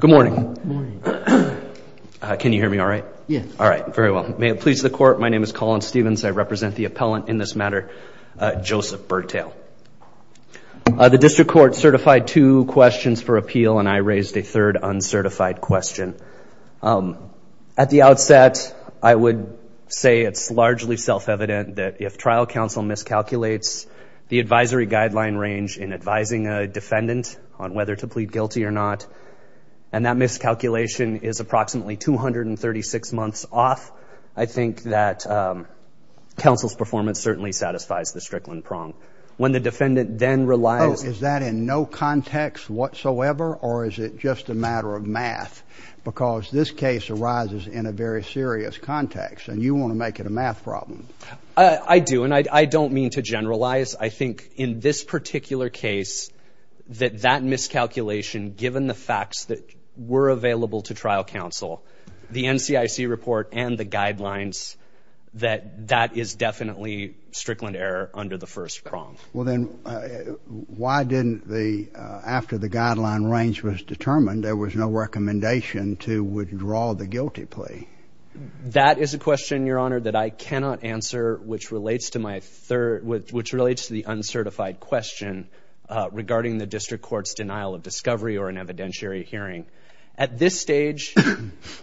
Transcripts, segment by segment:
Good morning. Can you hear me all right? Yes. All right, very well. May it please the court, my name is Colin Stevens. I represent the appellant in this matter, Joseph Birdtail. The district court certified two questions for appeal and I raised a third uncertified question. At the outset, I would say it's largely self-evident that if trial counsel miscalculates the advisory guideline range in advising a defendant on whether to plead guilty or not, and that miscalculation is approximately 236 months off, I think that counsel's performance certainly satisfies the Strickland prong. When the defendant then relies... Oh, is that in no context whatsoever or is it just a matter of math? Because this case arises in a very serious context and you want to make it a math problem. I do and I don't mean to generalize. I think in this particular case that that miscalculation, given the facts that were available to trial counsel, the NCIC report and the guidelines, that that is definitely Strickland error under the first prong. Well then, why didn't the, after the guideline range was determined, there was no recommendation to withdraw the guilty plea? That is a question, your honor, that I cannot answer, which relates to my third, which relates to the uncertified question regarding the district court's denial of discovery or an evidentiary hearing. At this stage,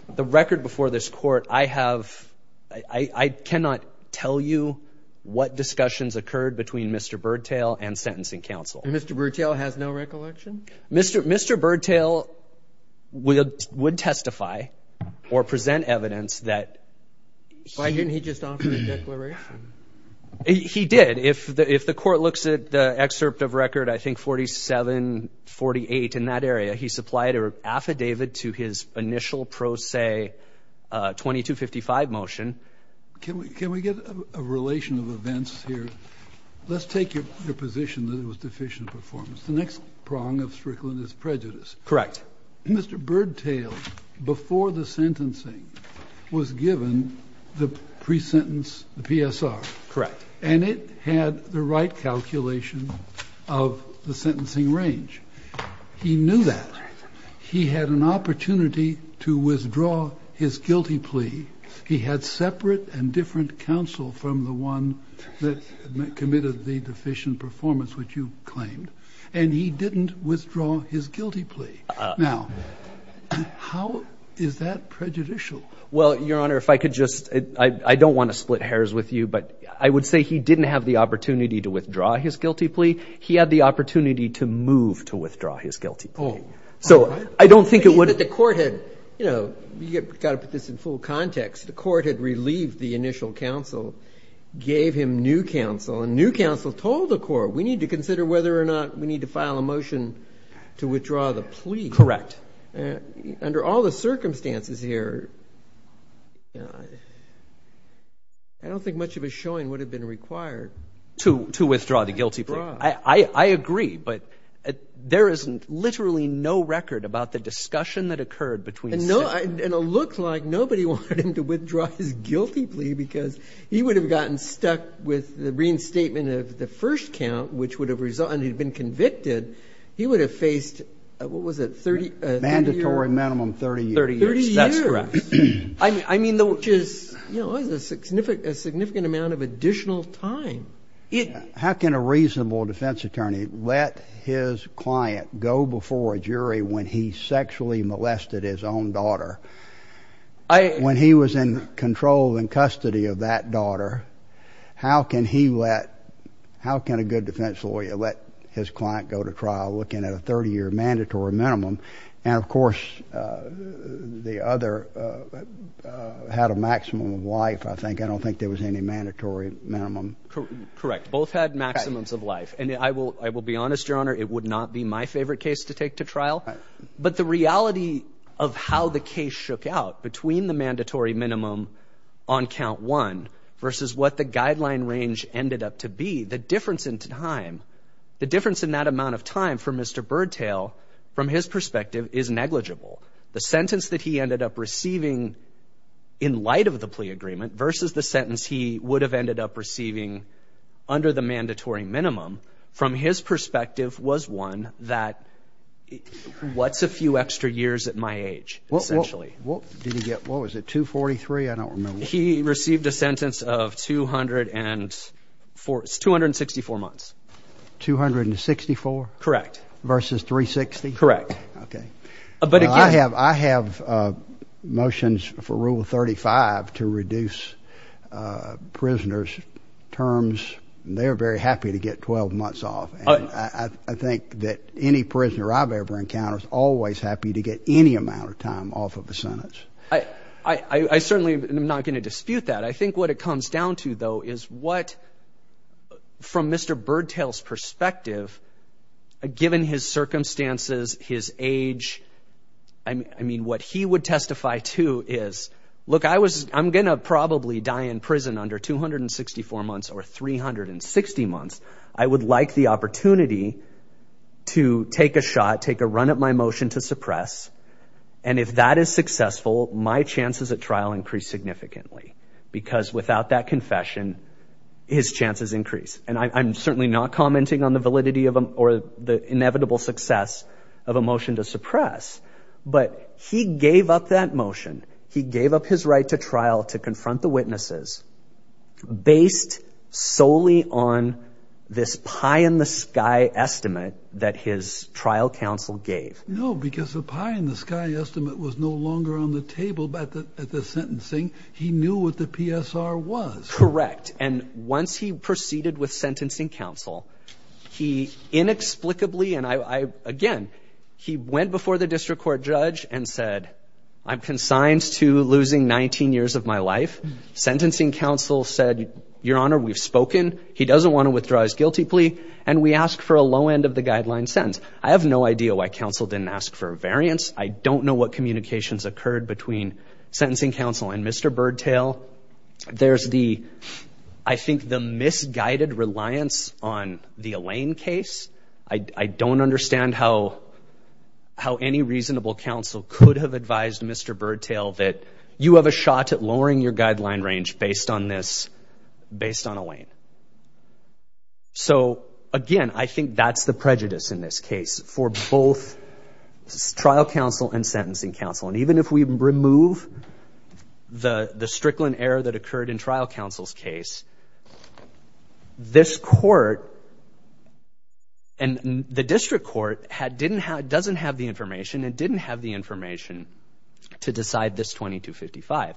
the record before this court, I have, I cannot tell you what discussions occurred between Mr. Birdtail and sentencing counsel. Mr. Birdtail has no recollection? Mr. Birdtail would testify or present evidence that... Why didn't he just offer a declaration? He did. If the court looks at the excerpt of record, I think 4748 in that area, he supplied an affidavit to his initial pro se 2255 motion. Can we get a relation of events here? Let's take your position that it was deficient performance. The next prong of Strickland is prejudice. Correct. Mr. Birdtail, before the sentencing, was given the pre-sentence PSR. Correct. And it had the right calculation of the sentencing range. He knew that. He had an opportunity to withdraw his guilty plea. He had separate and different counsel from the one that committed the deficient performance, which you claimed, and he didn't withdraw his guilty plea. Now, how is that prejudicial? Well, Your Honor, if I could just, I don't want to split hairs with you, but I would say he didn't have the opportunity to withdraw his guilty plea. He had the opportunity to move to withdraw his guilty plea. So I don't think it would... The court had, you know, you got to put this in full context. The court had relieved the initial counsel, gave him new counsel, and new counsel told the court, we need to consider whether or not we need to file a motion to withdraw the plea. Correct. Under all the circumstances here, I don't think much of a showing would have been required. To withdraw the guilty plea. I agree, but there is literally no record about the discussion that occurred between... And it looked like nobody wanted him to withdraw his guilty plea because he would have gotten stuck with the reinstatement of the first count, which would have resulted, and he'd been convicted, he would have faced, what was it, 30 years? Mandatory minimum 30 years. 30 years, that's correct. I mean, which is, you know, a significant amount of additional time. How can a reasonable defense attorney let his client go before a jury when he sexually How can he let... How can a good defense lawyer let his client go to trial looking at a 30-year mandatory minimum? And, of course, the other had a maximum of life, I think. I don't think there was any mandatory minimum. Correct. Both had maximums of life. And I will be honest, Your Honor, it would not be my favorite case to take to trial, but the reality of how the case shook out between the mandatory minimum on count one versus what the guideline range ended up to be, the difference in time, the difference in that amount of time for Mr. Birdtail, from his perspective, is negligible. The sentence that he ended up receiving in light of the plea agreement versus the sentence he would have ended up receiving under the mandatory minimum, from his perspective, was one that, what's a few extra years at my age, essentially? What was it? 243? I don't remember. He received a sentence of 264 months. 264? Correct. Versus 360? Correct. Okay. Well, I have motions for Rule 35 to reduce prisoners' terms. They're very happy to get 12 months off, and I think that any prisoner I've ever I certainly am not going to dispute that. I think what it comes down to, though, is what, from Mr. Birdtail's perspective, given his circumstances, his age, I mean, what he would testify to is, look, I'm going to probably die in prison under 264 months or 360 months. I would like the opportunity to take a shot, take a run at my motion to suppress, and if that is successful, my chances at trial increase significantly, because without that confession, his chances increase. And I'm certainly not commenting on the validity or the inevitable success of a motion to suppress, but he gave up that motion. He gave up his right to trial to confront the witnesses, based solely on this pie-in-the-sky estimate that his trial counsel gave. No, because the pie-in-the-sky estimate was no longer on the table at the sentencing. He knew what the PSR was. Correct, and once he proceeded with sentencing counsel, he inexplicably, and I, again, he went before the district court judge and said, I'm consigned to losing 19 years of my life. Sentencing counsel said, Your Honor, we've spoken. He doesn't want to withdraw his guilty plea, and we ask for a low end of the guideline sentence. I have no idea why counsel didn't ask for a variance. I don't know what communications occurred between sentencing counsel and Mr. Birdtail. There's the, I think, the misguided reliance on the Elaine case. I don't understand how any reasonable counsel could have advised Mr. Birdtail that you have a shot at lowering your guideline range based on this, based on Elaine. So, again, I think that's the prejudice in this case for both trial counsel and sentencing counsel, and even if we remove the Strickland error that occurred in trial counsel's case, this court and the district court had, didn't have, doesn't have the information and didn't have the information to decide this 2255,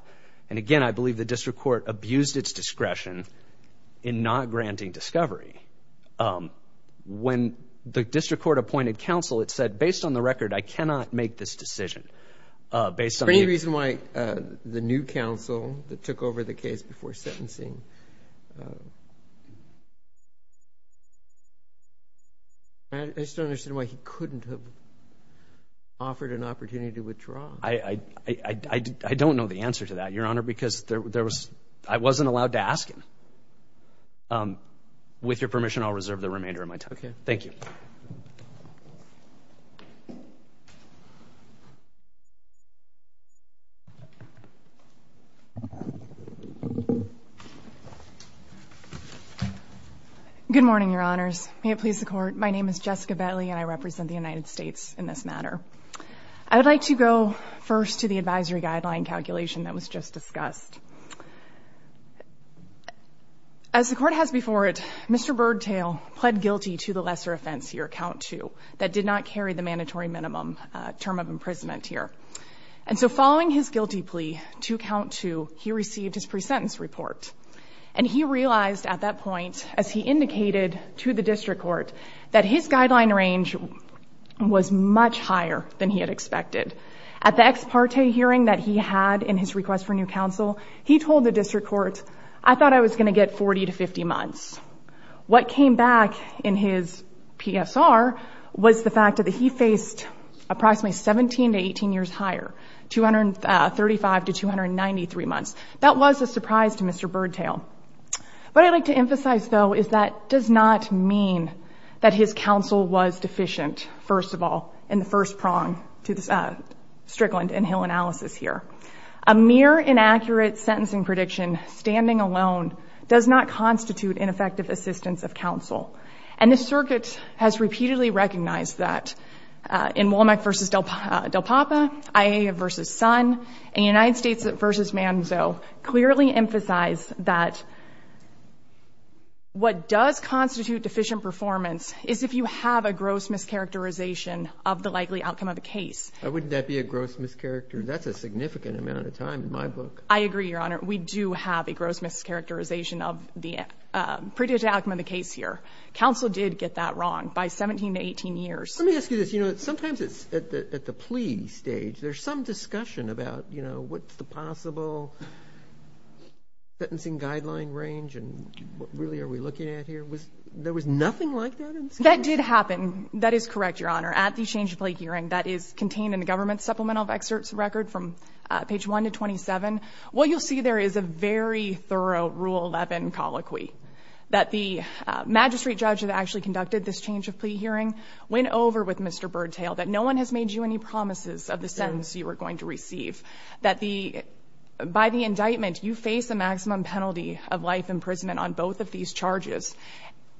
and again, I believe the district court abused its discretion in not granting discovery. When the district court appointed counsel, it said, based on the record, I cannot make this decision. Based on the reason why the new counsel that took over the case before sentencing, I just don't understand why he couldn't have offered an opportunity to withdraw. I, I, I, I, I don't know the answer to that, Your Honor, because there was, I wasn't allowed to ask him. With your permission, I'll reserve the remainder of my time. Okay. Thank you. Good morning, Your Honors. May it please the Court. My name is Jessica Bentley, and I represent the United States in this matter. I would like to go first to the advisory guideline calculation that was just discussed. As the Court has before it, Mr. Birdtail pled guilty to the lesser offense here, count two, that did not carry the mandatory minimum term of imprisonment here. And so following his guilty plea to count two, he received his pre-sentence report. And he realized at that point, as he indicated to the district court, that his guideline range was much higher than he had expected. At the ex parte hearing that he had in his request for new counsel, he told the district court, I thought I was going to get 40 to 50 months. What came back in his PSR was the fact that he faced approximately 17 to 18 years higher, 235 to 293 months. That was a surprise to Mr. Birdtail. What I'd like to emphasize, though, is that does not mean that his counsel was deficient, first of all, in the first prong to the Strickland and Hill analysis here. A mere inaccurate sentencing prediction standing alone does not constitute ineffective assistance of counsel. And the circuit has repeatedly recognized that in Womack v. Del Papa, IA v. Sun, and United States v. Manzo clearly emphasize that what does constitute deficient performance is if you have a gross mischaracterization of the likely outcome of the case. Wouldn't that be a gross mischaracterization? That's a significant amount of time in my book. I agree, Your Honor. We do have a gross mischaracterization of the predicted outcome of the case here. Counsel did get that wrong by 17 to 18 years. Let me ask you this. You know, sometimes at the plea stage, there's some discussion about, you know, what's the possible sentencing guideline range and what really are we looking at here? There was nothing like that? That did happen. That is correct, Your Honor. At the change of plea hearing that is contained in the government supplemental of excerpts record from page 1 to 27, what you'll see there is a very thorough Rule 11 colloquy that the magistrate judge that actually conducted this change of plea hearing went over with Mr. Birdtail that no one has made you any promises of the sentence you were going to receive. That by the indictment, you face a maximum penalty of life imprisonment on both of these charges,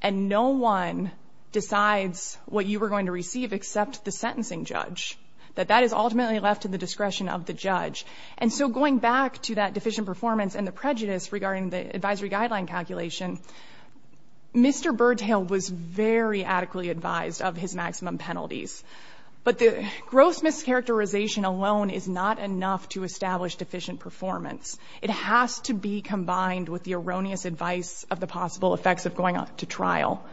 and no one decides what you were going to receive except the sentencing judge. That that is ultimately left to the discretion of the judge. And so going back to that deficient performance and the prejudice regarding the advisory guideline calculation, Mr. Birdtail was very adequately advised of his maximum penalties. But the gross mischaracterization alone is not enough to establish deficient performance. It has to be combined with the erroneous advice of the possible effects of going to trial.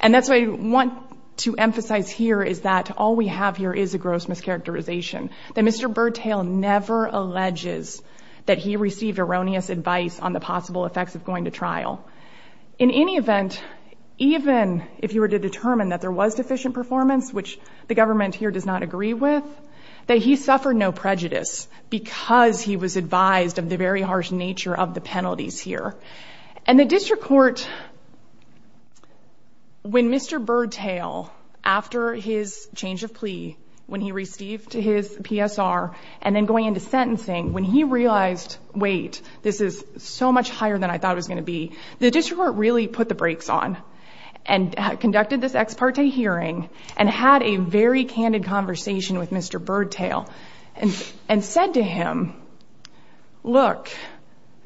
And that's what I want to emphasize here is that all we have here is a gross mischaracterization, that Mr. Birdtail never alleges that he received erroneous advice on the possible effects of going to trial. In any event, even if you were to determine that there was deficient performance, which the government here does not agree with, that he suffered no prejudice because he was advised of the very harsh nature of the penalties here. And the district court, when Mr. Birdtail, after his change of plea, when he received his PSR, and then going into sentencing, when he realized, wait, this is so much higher than I thought it was going to be, the district court really put the brakes on and conducted this ex parte hearing and had a very candid conversation with Mr. Birdtail and said to him, look,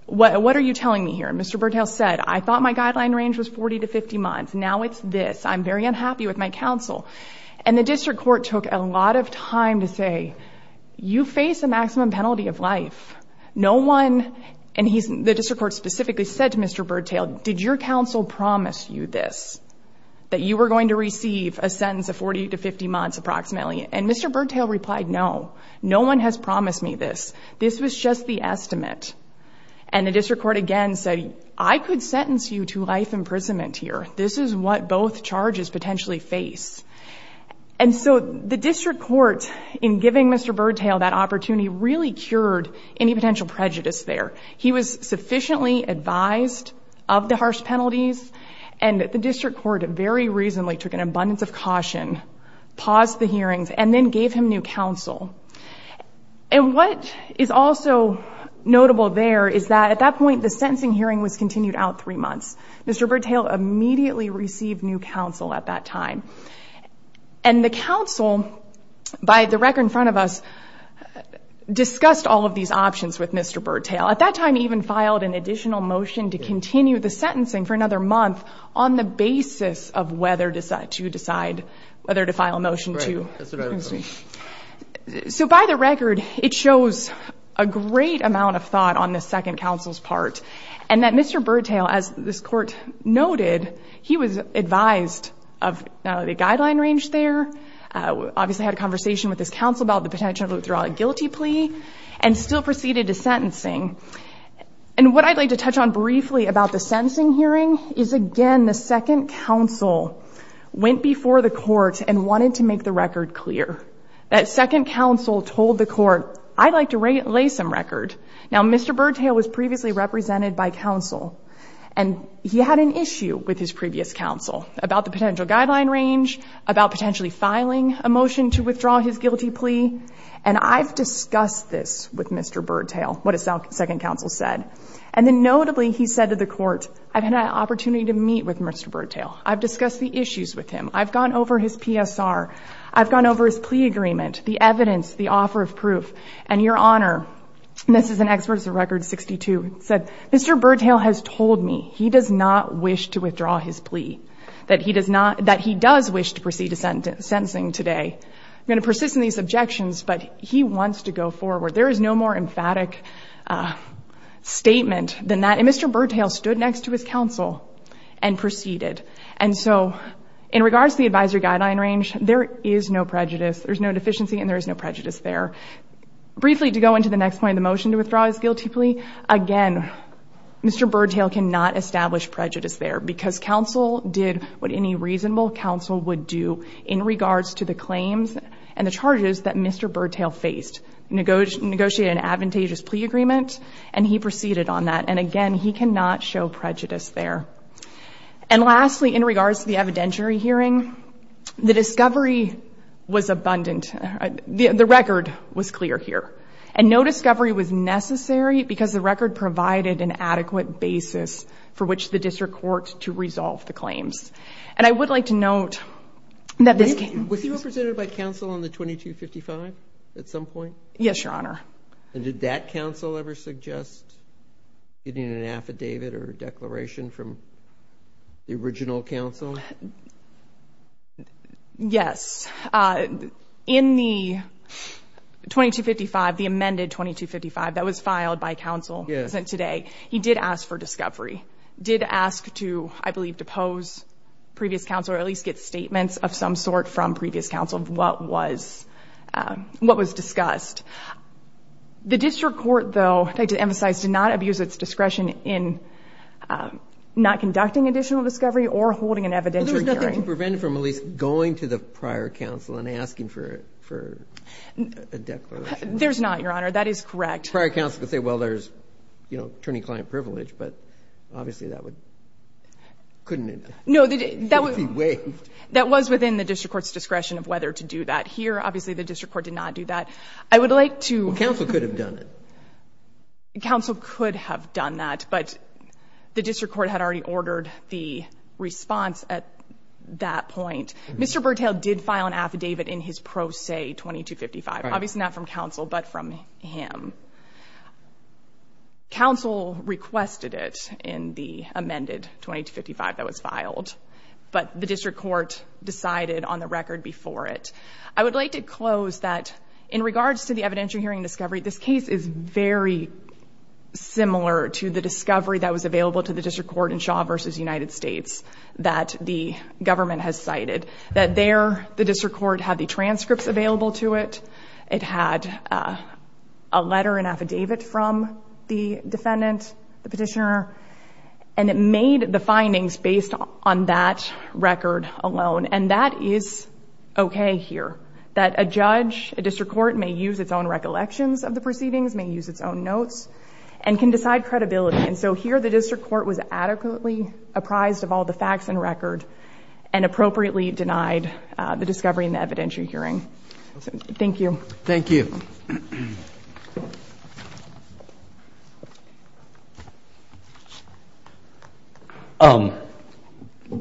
what are you telling me here? Mr. Birdtail said, I thought my guideline range was 40 to 50 months. Now it's this. I'm very unhappy with my counsel. And the district court took a lot of time to say, you face a maximum penalty of life. No one, and the district court specifically said to Mr. Birdtail, did your counsel promise you this? That you were going to receive a sentence of 40 to 50 months approximately? And Mr. Birdtail replied, no. No one has promised me this. This was just the estimate. And the district court again said, I could sentence you to life imprisonment here. This is what both charges potentially face. And so the district court, in giving Mr. Birdtail that opportunity, really cured any potential prejudice there. He was sufficiently advised of the harsh penalties. And the district court very reasonably took an abundance of caution, paused the hearings, and then gave him new counsel. And what is also notable there is that at that point, the sentencing hearing was continued out three months. Mr. Birdtail immediately received new counsel at that time. And the counsel, by the record in front of us, discussed all of these options with Mr. Birdtail. At that time, he even filed an additional motion to continue the sentencing for another month on the basis of whether to decide, whether to file a motion to. That's right. So by the record, it shows a great amount of thought on the second counsel's part. And that Mr. Birdtail, as this court noted, he was advised of the guideline range there. Obviously had a conversation with his counsel about the potential to withdraw a guilty plea and still proceeded to sentencing. And what I'd like to touch on briefly about the sentencing hearing is again, the second counsel went before the court and wanted to make the record clear. That second counsel told the court, I'd like to lay some record. Now, Mr. Birdtail was previously represented by counsel. And he had an issue with his previous counsel about the potential guideline range, about potentially filing a motion to withdraw his guilty plea. And I've discussed this with Mr. Birdtail, what his second counsel said. And then notably, he said to the court, I've had an opportunity to meet with Mr. Birdtail. I've discussed the issues with him. I've gone over his PSR. I've gone over his plea agreement, the evidence, the offer of proof. And your honor, this is an expert of record 62, said Mr. Birdtail has told me he does not wish to withdraw his plea. That he does wish to proceed to sentencing today. I'm going to persist in these objections, but he wants to go forward. There is no more emphatic statement than that. And Mr. Birdtail stood next to his counsel and proceeded. And so in regards to the advisory guideline range, there is no prejudice. There's no deficiency and there is no prejudice there. Briefly, to go into the next point, the motion to withdraw his guilty plea. Again, Mr. Birdtail cannot establish prejudice there because counsel did what any reasonable counsel would do in regards to the claims and the charges that Mr. Birdtail faced. Negotiated an advantageous plea agreement and he proceeded on that. And again, he cannot show prejudice there. And lastly, in regards to the evidentiary hearing, the discovery was abundant. The record was clear here and no discovery was necessary because the record provided an adequate basis for which the district court to resolve the claims. And I would like to note that this case- Was he represented by counsel on the 2255 at some point? Yes, your honor. And did that counsel ever suggest getting an affidavit or declaration from the original counsel? Yes. In the 2255, the amended 2255 that was filed by counsel today, he did ask for discovery. Did ask to, I believe, depose previous counsel or at least get statements of some sort from previous counsel of what was discussed. The district court though, I'd like to emphasize, did not abuse its discretion in not conducting additional discovery or holding an evidentiary hearing. There's nothing to prevent from at least going to the prior counsel and asking for a declaration? There's not, your honor. That is correct. Prior counsel could say, well, there's attorney-client privilege, but obviously that would, couldn't it? No, that was- It would be waived. That was within the district court's discretion of whether to do that here. Obviously, the district court did not do that. I would like to- Well, counsel could have done it. Counsel could have done that, but the district court had already ordered the response at that point. Mr. Burtale did file an affidavit in his pro se 2255, obviously not from counsel, but from him. Counsel requested it in the amended 2255 that was filed, but the district court decided on the record before it. I would like to close that in regards to the evidentiary hearing discovery, this case is very similar to the discovery that was available to the district court in Shaw versus United States that the government has cited. That there, the district court had the transcripts available to it. It had a letter, an affidavit from the defendant, the petitioner, and it made the findings based on that record alone. And that is okay here, that a judge, a district court may use its own recollections of the proceedings, may use its own notes, and can decide credibility. And so here, the district court was adequately apprised of all the facts and record and appropriately denied the discovery in the evidentiary hearing. Thank you. Thank you.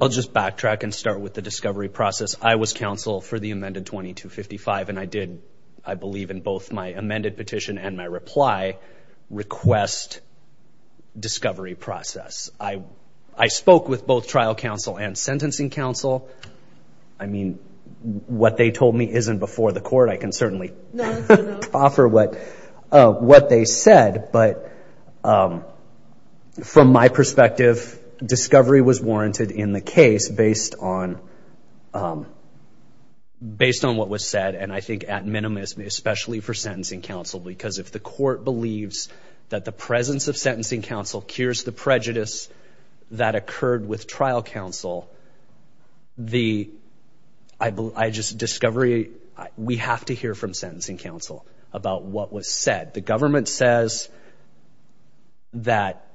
I'll just backtrack and start with the discovery process. I was counsel for the amended 2255 and I did, I believe in both my amended petition and my reply, request discovery process. I spoke with both trial counsel and sentencing counsel. I mean, what they told me isn't before the court. I can certainly offer what they said, but from my perspective, discovery was warranted in the case based on what was said. And I think at minimum, especially for sentencing counsel, because if the court believes that the presence of sentencing counsel cures the prejudice that occurred with trial counsel, we have to hear from sentencing counsel about what was said. The government says that,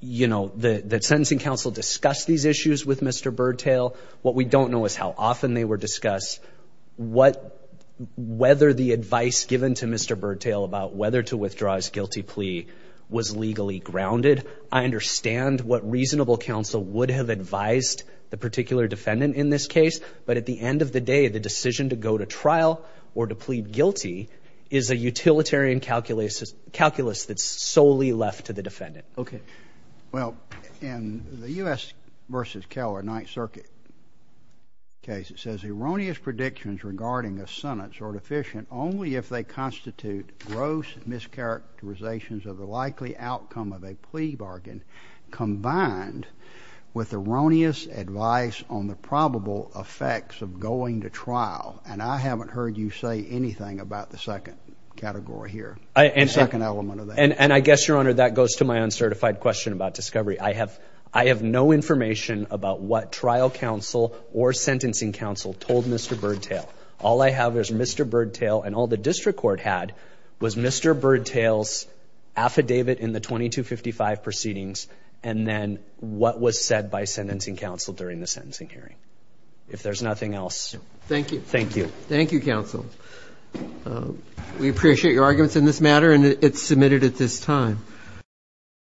you know, that sentencing counsel discussed these issues with Mr. Birdtail. What we don't know is how often they were discussed, whether the advice given to Mr. Birdtail about whether to withdraw his guilty plea was legally grounded. I understand what reasonable counsel would have advised the particular defendant in this case, but at the end of the day, the decision to go to trial or to plead guilty is a utilitarian calculus that's solely left to the defendant. Okay. Well, in the U.S. v. Keller Ninth Circuit case, it says erroneous predictions regarding a sentence are deficient only if they constitute gross mischaracterizations of the likely outcome of a plea bargain combined with erroneous advice on the probable effects of going to trial. And I haven't heard you say anything about the second category here, second element of that. And I guess, Your Honor, that goes to my uncertified question about discovery. I have no information about what trial counsel or sentencing counsel told Mr. Birdtail. All I have is Mr. Birdtail and all the district court had was Mr. Birdtail's affidavit in the 2255 proceedings and then what was said by sentencing counsel during the sentencing hearing. If there's nothing else. Thank you. Thank you, counsel. We appreciate your arguments in this matter and it's submitted at this time.